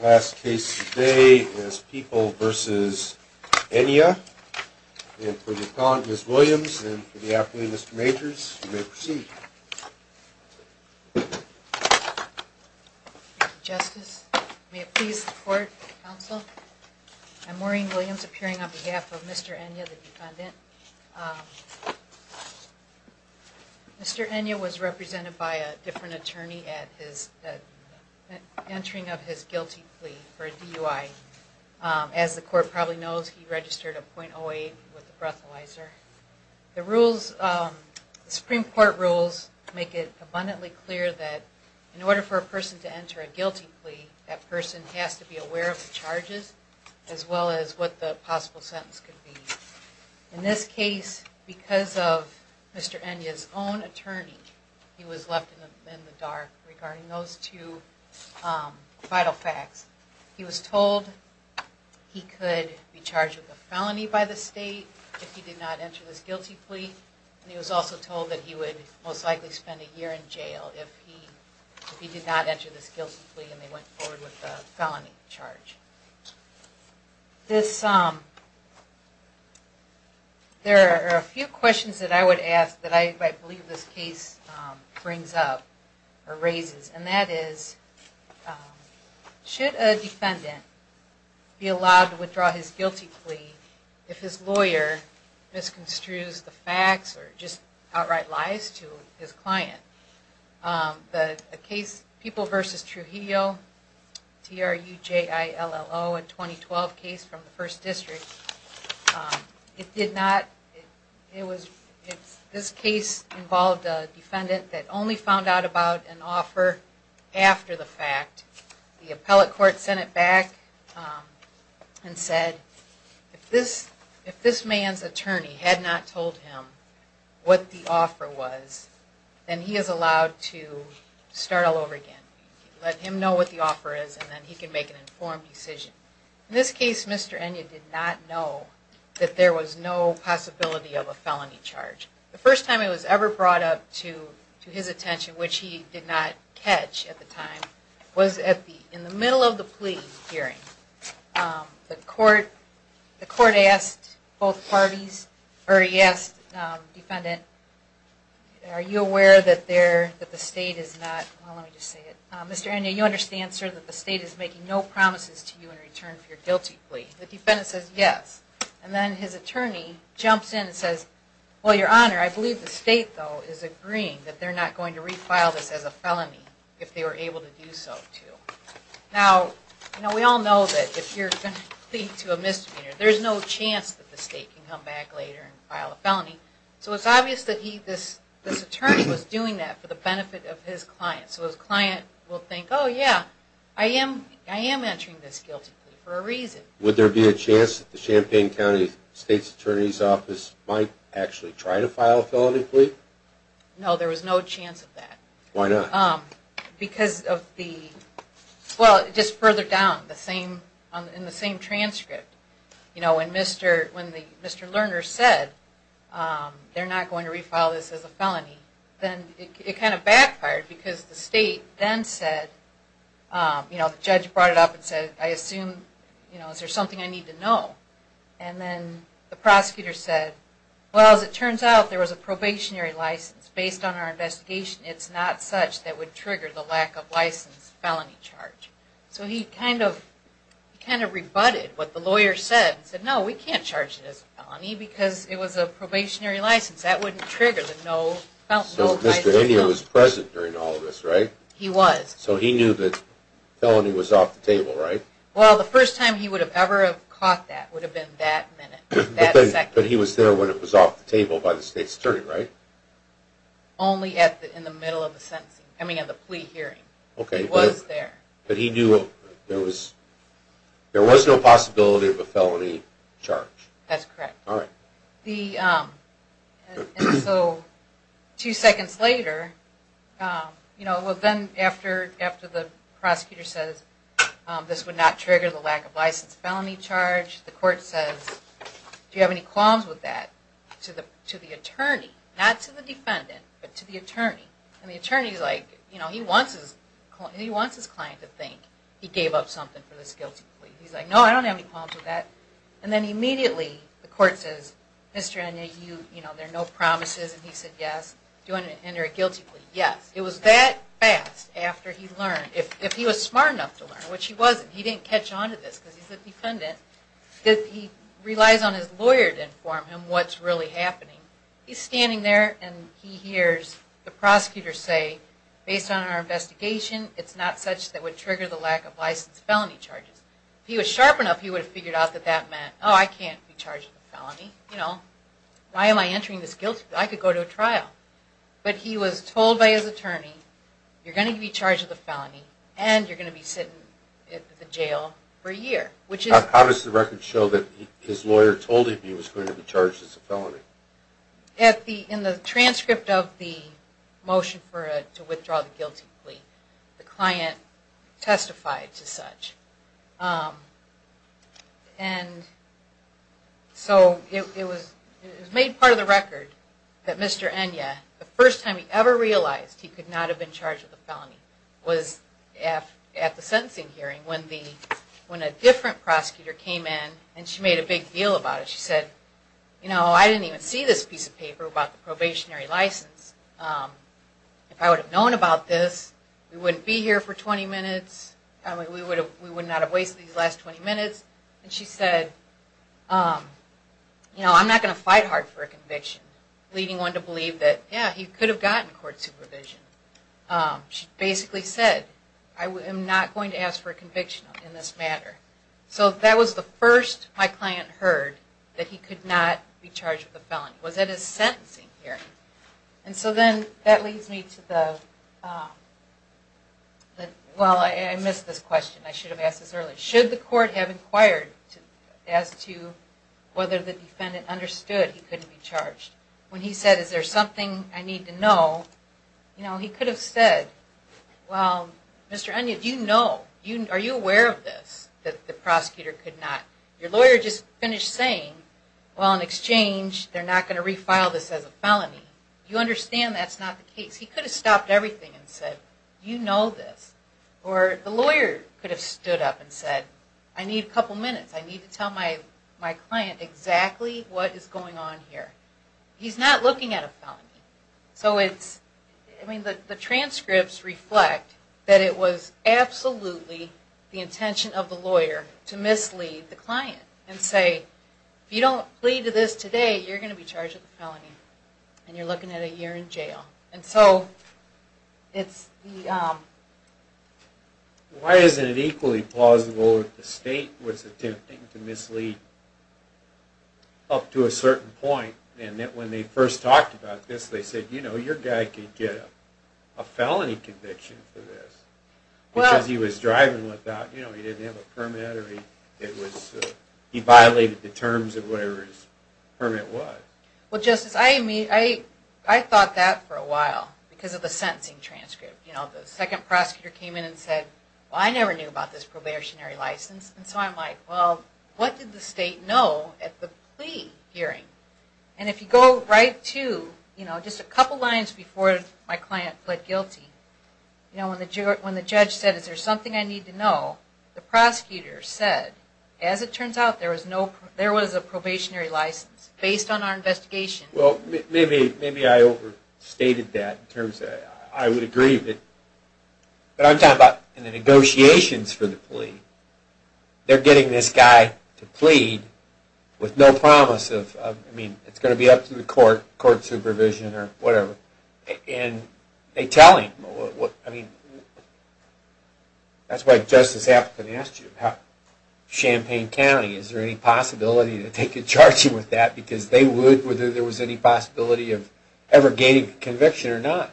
Last case today is People v. Enyia, and for the appellate, Ms. Williams, and for the appellate, Mr. Majors, you may proceed. Thank you, Justice. May it please the Court, Counsel. I'm Maureen Williams, appearing on behalf of Mr. Enyia, the defendant. Mr. Enyia was represented by a different attorney at the entering of his guilty plea for a DUI. As the Court probably knows, he registered a .08 with a breathalyzer. The rules, the Supreme Court rules, make it abundantly clear that in order for a person to enter a guilty plea, that person has to be aware of the charges, as well as what the possible sentence could be. In this case, because of Mr. Enyia's own attorney, he was left in the dark regarding those two vital facts. He was told he could be charged with a felony by the state if he did not enter this guilty plea. He was also told that he would most likely spend a year in jail if he did not enter this guilty plea and they went forward with a felony charge. There are a few questions that I would ask that I believe this case brings up, or raises, and that is, should a defendant be allowed to withdraw his guilty plea if his lawyer misconstrues the facts or just outright lies to his client? The case, People v. Trujillo, T-R-U-J-I-L-L-O, a 2012 case from the First District, it did not, it was, this case involved a defendant that only found out about an offer after the fact. The appellate court sent it back and said, if this man's attorney had not told him what the offer was, then he is allowed to start all over again. Let him know what the offer is and then he can make an informed decision. In this case, Mr. Enya did not know that there was no possibility of a felony charge. The first time it was ever brought up to his attention, which he did not catch at the time, was in the middle of the plea hearing. The court asked both parties, or he asked the defendant, are you aware that the state is not, well let me just say it, Mr. Enya, you understand, sir, that the state is making no promises to you in return for your guilty plea? The defendant says yes. And then his attorney jumps in and says, well, your honor, I believe the state, though, is agreeing that they're not going to refile this as a felony if they were able to do so, too. Now, we all know that if you're going to plead to a misdemeanor, there's no chance that the state can come back later and file a felony, so it's obvious that this attorney was doing that for the benefit of his client. So his client will think, oh yeah, I am answering this guilty plea for a reason. Would there be a chance that the Champaign County State's Attorney's Office might actually try to file a felony plea? No, there was no chance of that. Why not? Because of the, well, just further down, in the same transcript, you know, when Mr. Lerner said they're not going to refile this as a felony, then it kind of backfired because the state then said, you know, the judge brought it up and said, I assume, you know, is there something I need to know? And then the prosecutor said, well, as it turns out, there was a probationary license based on our investigation. It's not such that would trigger the lack of license felony charge. So he kind of rebutted what the lawyer said and said, no, we can't charge it as a felony because it was a probationary license. That wouldn't trigger the no license. So Mr. India was present during all of this, right? He was. So he knew that felony was off the table, right? Well, the first time he would have ever caught that would have been that minute, that second. But he was there when it was off the table by the state's attorney, right? Only in the middle of the sentencing, I mean, in the plea hearing. Okay. He was there. But he knew there was no possibility of a felony charge. That's correct. All right. And so two seconds later, you know, well, then after the prosecutor says this would not trigger the lack of license felony charge, the court says, do you have any qualms with that to the attorney? Not to the defendant, but to the attorney. And the attorney's like, you know, he wants his client to think he gave up something for this guilty plea. He's like, no, I don't have any qualms with that. And then immediately the court says, Mr. Enya, you know, there are no promises. And he said, yes. Do you want to enter a guilty plea? Yes. It was that fast after he learned, if he was smart enough to learn, which he wasn't. He didn't catch on to this because he's a defendant. He relies on his lawyer to inform him what's really happening. He's standing there and he hears the prosecutor say, based on our investigation, it's not such that would trigger the lack of license felony charges. If he was sharp enough, he would have figured out that that meant, oh, I can't be charged with a felony. You know, why am I entering this guilty plea? I could go to a trial. But he was told by his attorney, you're going to be charged with a felony and you're going to be sitting at the jail for a year. How does the record show that his lawyer told him he was going to be charged as a felony? In the transcript of the motion to withdraw the guilty plea, the client testified to such. So it was made part of the record that Mr. Enya, the first time he ever realized he could not have been charged with a felony, was at the sentencing hearing when a different prosecutor came in and she made a big deal about it. She said, you know, I didn't even see this piece of paper about the probationary license. If I would have known about this, we wouldn't be here for 20 minutes. We would not have wasted these last 20 minutes. And she said, you know, I'm not going to fight hard for a conviction, leading one to believe that, yeah, he could have gotten court supervision. She basically said, I am not going to ask for a conviction in this matter. So that was the first my client heard, that he could not be charged with a felony, was at his sentencing hearing. Well, I missed this question. I should have asked this earlier. Should the court have inquired as to whether the defendant understood he couldn't be charged? When he said, is there something I need to know, you know, he could have said, well, Mr. Onion, do you know, are you aware of this, that the prosecutor could not, your lawyer just finished saying, well, in exchange, they're not going to refile this as a felony. You understand that's not the case. He could have stopped everything and said, you know this. Or the lawyer could have stood up and said, I need a couple minutes. I need to tell my client exactly what is going on here. He's not looking at a felony. The transcripts reflect that it was absolutely the intention of the lawyer to mislead the client and say, if you don't plead to this today, you're going to be charged with a felony. And so it's the... Why isn't it equally plausible that the state was attempting to mislead up to a certain point and that when they first talked about this, they said, you know, your guy could get a felony conviction for this because he was driving without, you know, he didn't have a permit or he violated the terms of whatever his permit was. Well, Justice, I thought that for a while because of the sentencing transcript. You know, the second prosecutor came in and said, well, I never knew about this probationary license. And so I'm like, well, what did the state know at the plea hearing? And if you go right to, you know, just a couple lines before my client pled guilty, you know, when the judge said, is there something I need to know, the prosecutor said, as it turns out, there was a probationary license based on our investigation. Well, maybe I overstated that in terms of, I would agree with it. But I'm talking about in the negotiations for the plea. They're getting this guy to plead with no promise of, I mean, it's going to be up to the court, court supervision or whatever. And they tell him, I mean, that's why Justice Afton asked you, Champaign County, is there any possibility that they could charge him with that? Because they would, whether there was any possibility of ever gaining conviction or not.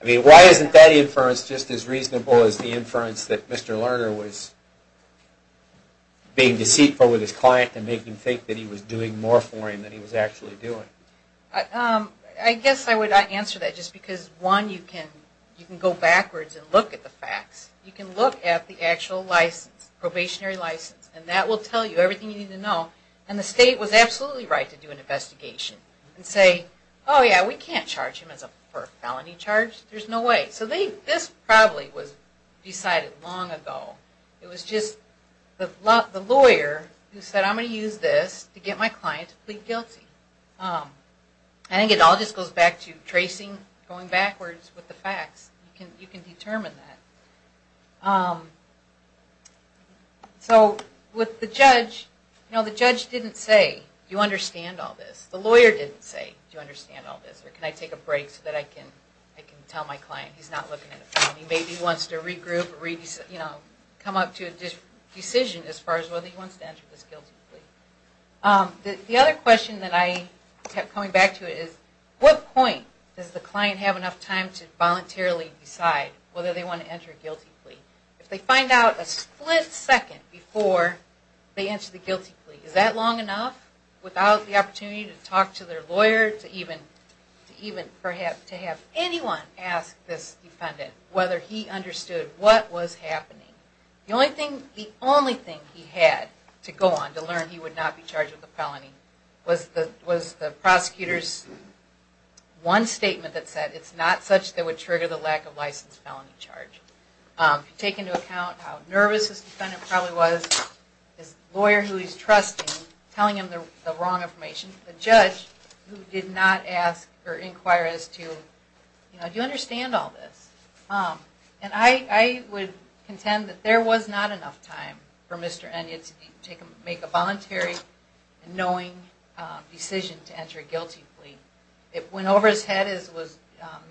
I mean, why isn't that inference just as reasonable as the inference that Mr. Lerner was being deceitful with his client and making him think that he was doing more for him than he was actually doing? I guess I would answer that just because, one, you can go backwards and look at the facts. You can look at the actual license, probationary license, and that will tell you everything you need to know. And the state was absolutely right to do an investigation and say, oh yeah, we can't charge him for a felony charge. There's no way. So this probably was decided long ago. It was just the lawyer who said, I'm going to use this to get my client to plead guilty. I think it all just goes back to tracing, going backwards with the facts. You can determine that. So with the judge, you know, the judge didn't say, do you understand all this? The lawyer didn't say, do you understand all this? Or can I take a break so that I can tell my client he's not looking at a felony? Maybe he wants to regroup or come up to a decision as far as whether he wants to enter this guilty plea. The other question that I kept coming back to is, what point does the client have enough time to voluntarily decide whether they want to enter a guilty plea? If they find out a split second before they enter the guilty plea, is that long enough without the opportunity to talk to their lawyer, to have anyone ask this defendant whether he understood what was happening? The only thing he had to go on to learn he would not be charged with a felony was the prosecutor's one statement that said, it's not such that would trigger the lack of license felony charge. If you take into account how nervous this defendant probably was, his lawyer who he's trusting, telling him the wrong information, the judge who did not ask or inquire as to, you know, do you understand all this? And I would contend that there was not enough time for Mr. Enyett to make a voluntary and knowing decision to enter a guilty plea. It went over his head as was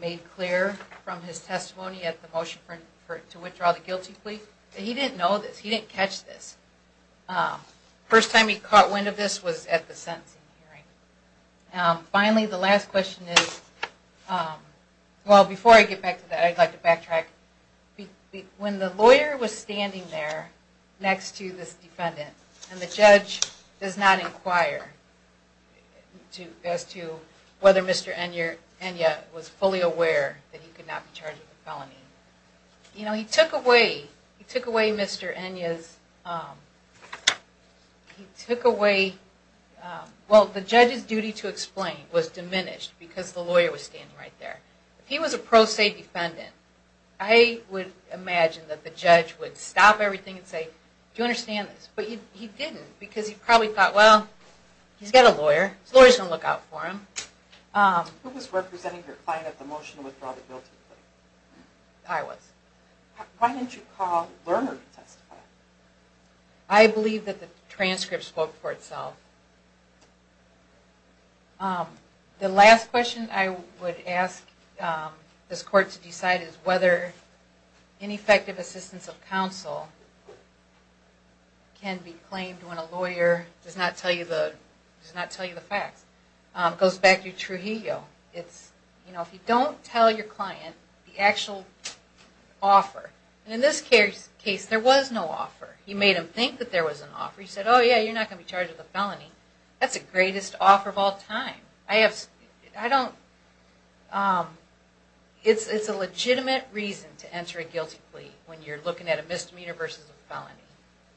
made clear from his testimony at the motion to withdraw the guilty plea. He didn't know this. He didn't catch this. First time he caught wind of this was at the sentencing hearing. Finally, the last question is, well before I get back to that, I'd like to backtrack. When the lawyer was standing there next to this defendant and the judge does not inquire as to whether Mr. Enyett was fully aware that he could not be charged with a felony, you know, he took away Mr. Enyett's, he took away, well the judge's duty to explain was diminished because the lawyer was standing right there. If he was a pro se defendant, I would imagine that the judge would stop everything and say, do you understand this? But he didn't because he probably thought, well, he's got a lawyer. His lawyer's going to look out for him. I was. I believe that the transcript spoke for itself. The last question I would ask this court to decide is whether ineffective assistance of counsel can be claimed when a lawyer does not tell you the facts. It goes back to Trujillo. If you don't tell your client the actual offer, and in this case, there was no offer. He made him think that there was an offer. He said, oh yeah, you're not going to be charged with a felony. That's the greatest offer of all time. It's a legitimate reason to enter a guilty plea when you're looking at a misdemeanor versus a felony.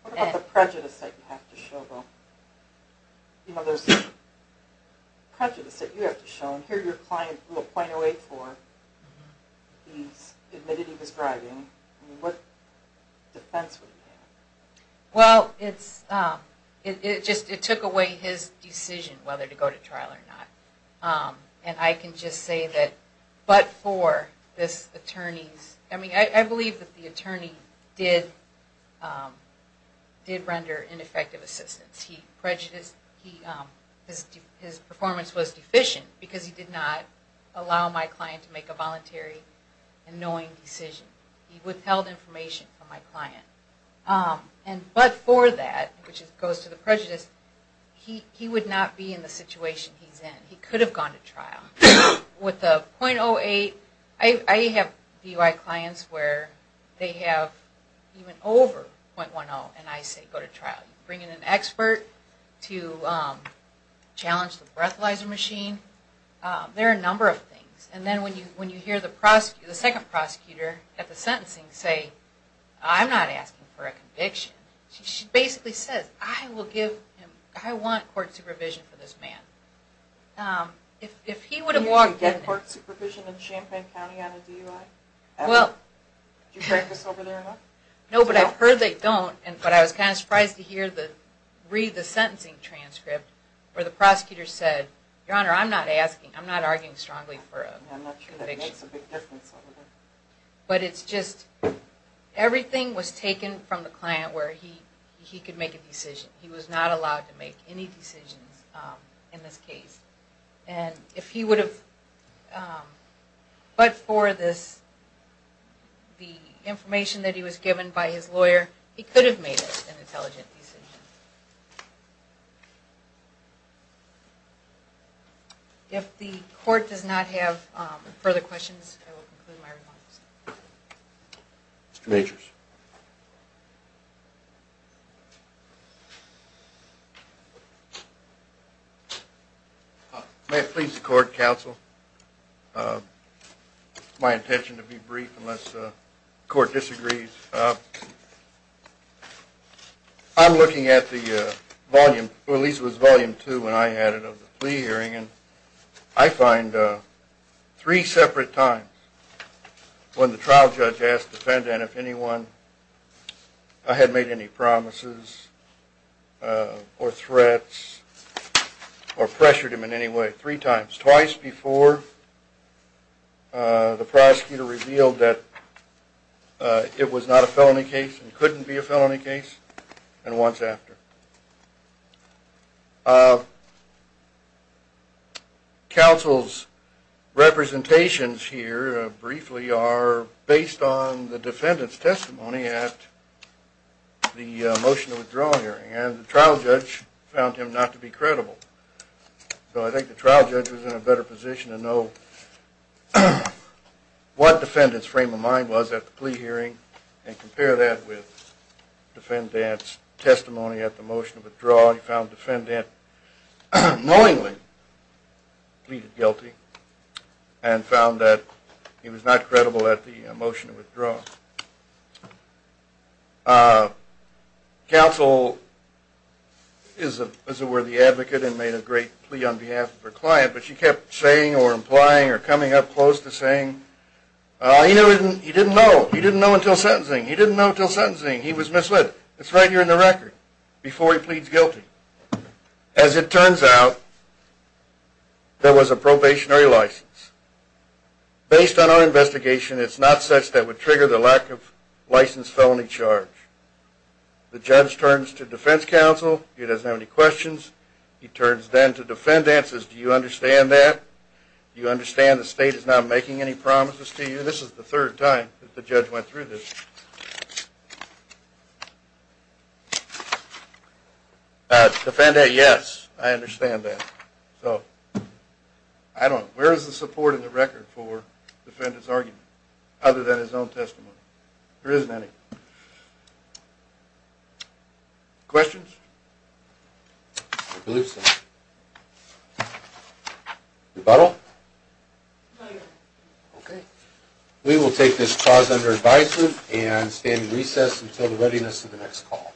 What about the prejudice that you have to show? Here your client blew a .084. He admitted he was driving. What defense would he have? It took away his decision whether to go to trial or not. I can just say that but for this attorney's... I believe that the attorney did render ineffective assistance. His performance was deficient because he did not allow my client to make a voluntary and knowing decision. He withheld information from my client. But for that, which goes to the prejudice, he would not be in the situation he's in. He could have gone to trial with a .08. I have DUI clients where they have even over .10 and I say go to trial. Bring in an expert to challenge the breathalyzer machine. There are a number of things. And then when you hear the second prosecutor at the sentencing say, I'm not asking for a conviction. She basically says, I want court supervision for this man. Do you get court supervision in Champaign County on a DUI? No, but I've heard they don't. But I was kind of surprised to read the sentencing transcript where the prosecutor said, Your Honor, I'm not asking. I'm not arguing strongly for a conviction. I'm not sure that makes a big difference over there. Everything was taken from the client where he could make a decision. He was not allowed to make any decisions in this case. But for the information that he was given by his lawyer, he could have made an intelligent decision. If the court does not have further questions, I will conclude my remarks. Mr. Majors. May it please the court, counsel. My intention to be brief unless the court disagrees. I'm looking at the volume, or at least it was volume two when I had it of the plea hearing. I find three separate times when the trial judge asked the defendant if anyone had made any promises or threats or pressured him in any way. Three times, twice before the prosecutor revealed that it was not a felony case and couldn't be a felony case, and once after. Counsel's representations here briefly are based on the defendant's testimony at the motion to withdraw hearing. And the trial judge found him not to be credible. So I think the trial judge was in a better position to know what defendant's frame of mind was at the plea hearing and compare that with defendant's testimony at the motion to withdraw. He found the defendant knowingly pleaded guilty and found that he was not credible at the motion to withdraw. Counsel is a worthy advocate and made a great plea on behalf of her client, but she kept saying or implying or coming up close to saying, he didn't know. He didn't know until sentencing. He didn't know until sentencing. He was misled. It's right here in the record before he pleads guilty. As it turns out, there was a probationary license. Based on our investigation, it's not such that would trigger the lack of license felony charge. The judge turns to defense counsel. He doesn't have any questions. He turns then to defendants and says, do you understand that? Do you understand the state is not making any promises to you? This is the third time that the judge went through this. Defendant, yes. I understand that. Where is the support in the record for defendant's argument? Other than his own testimony? There isn't any. Questions? Rebuttal? We will take this clause under advisement and stand in recess until the readiness of the next call.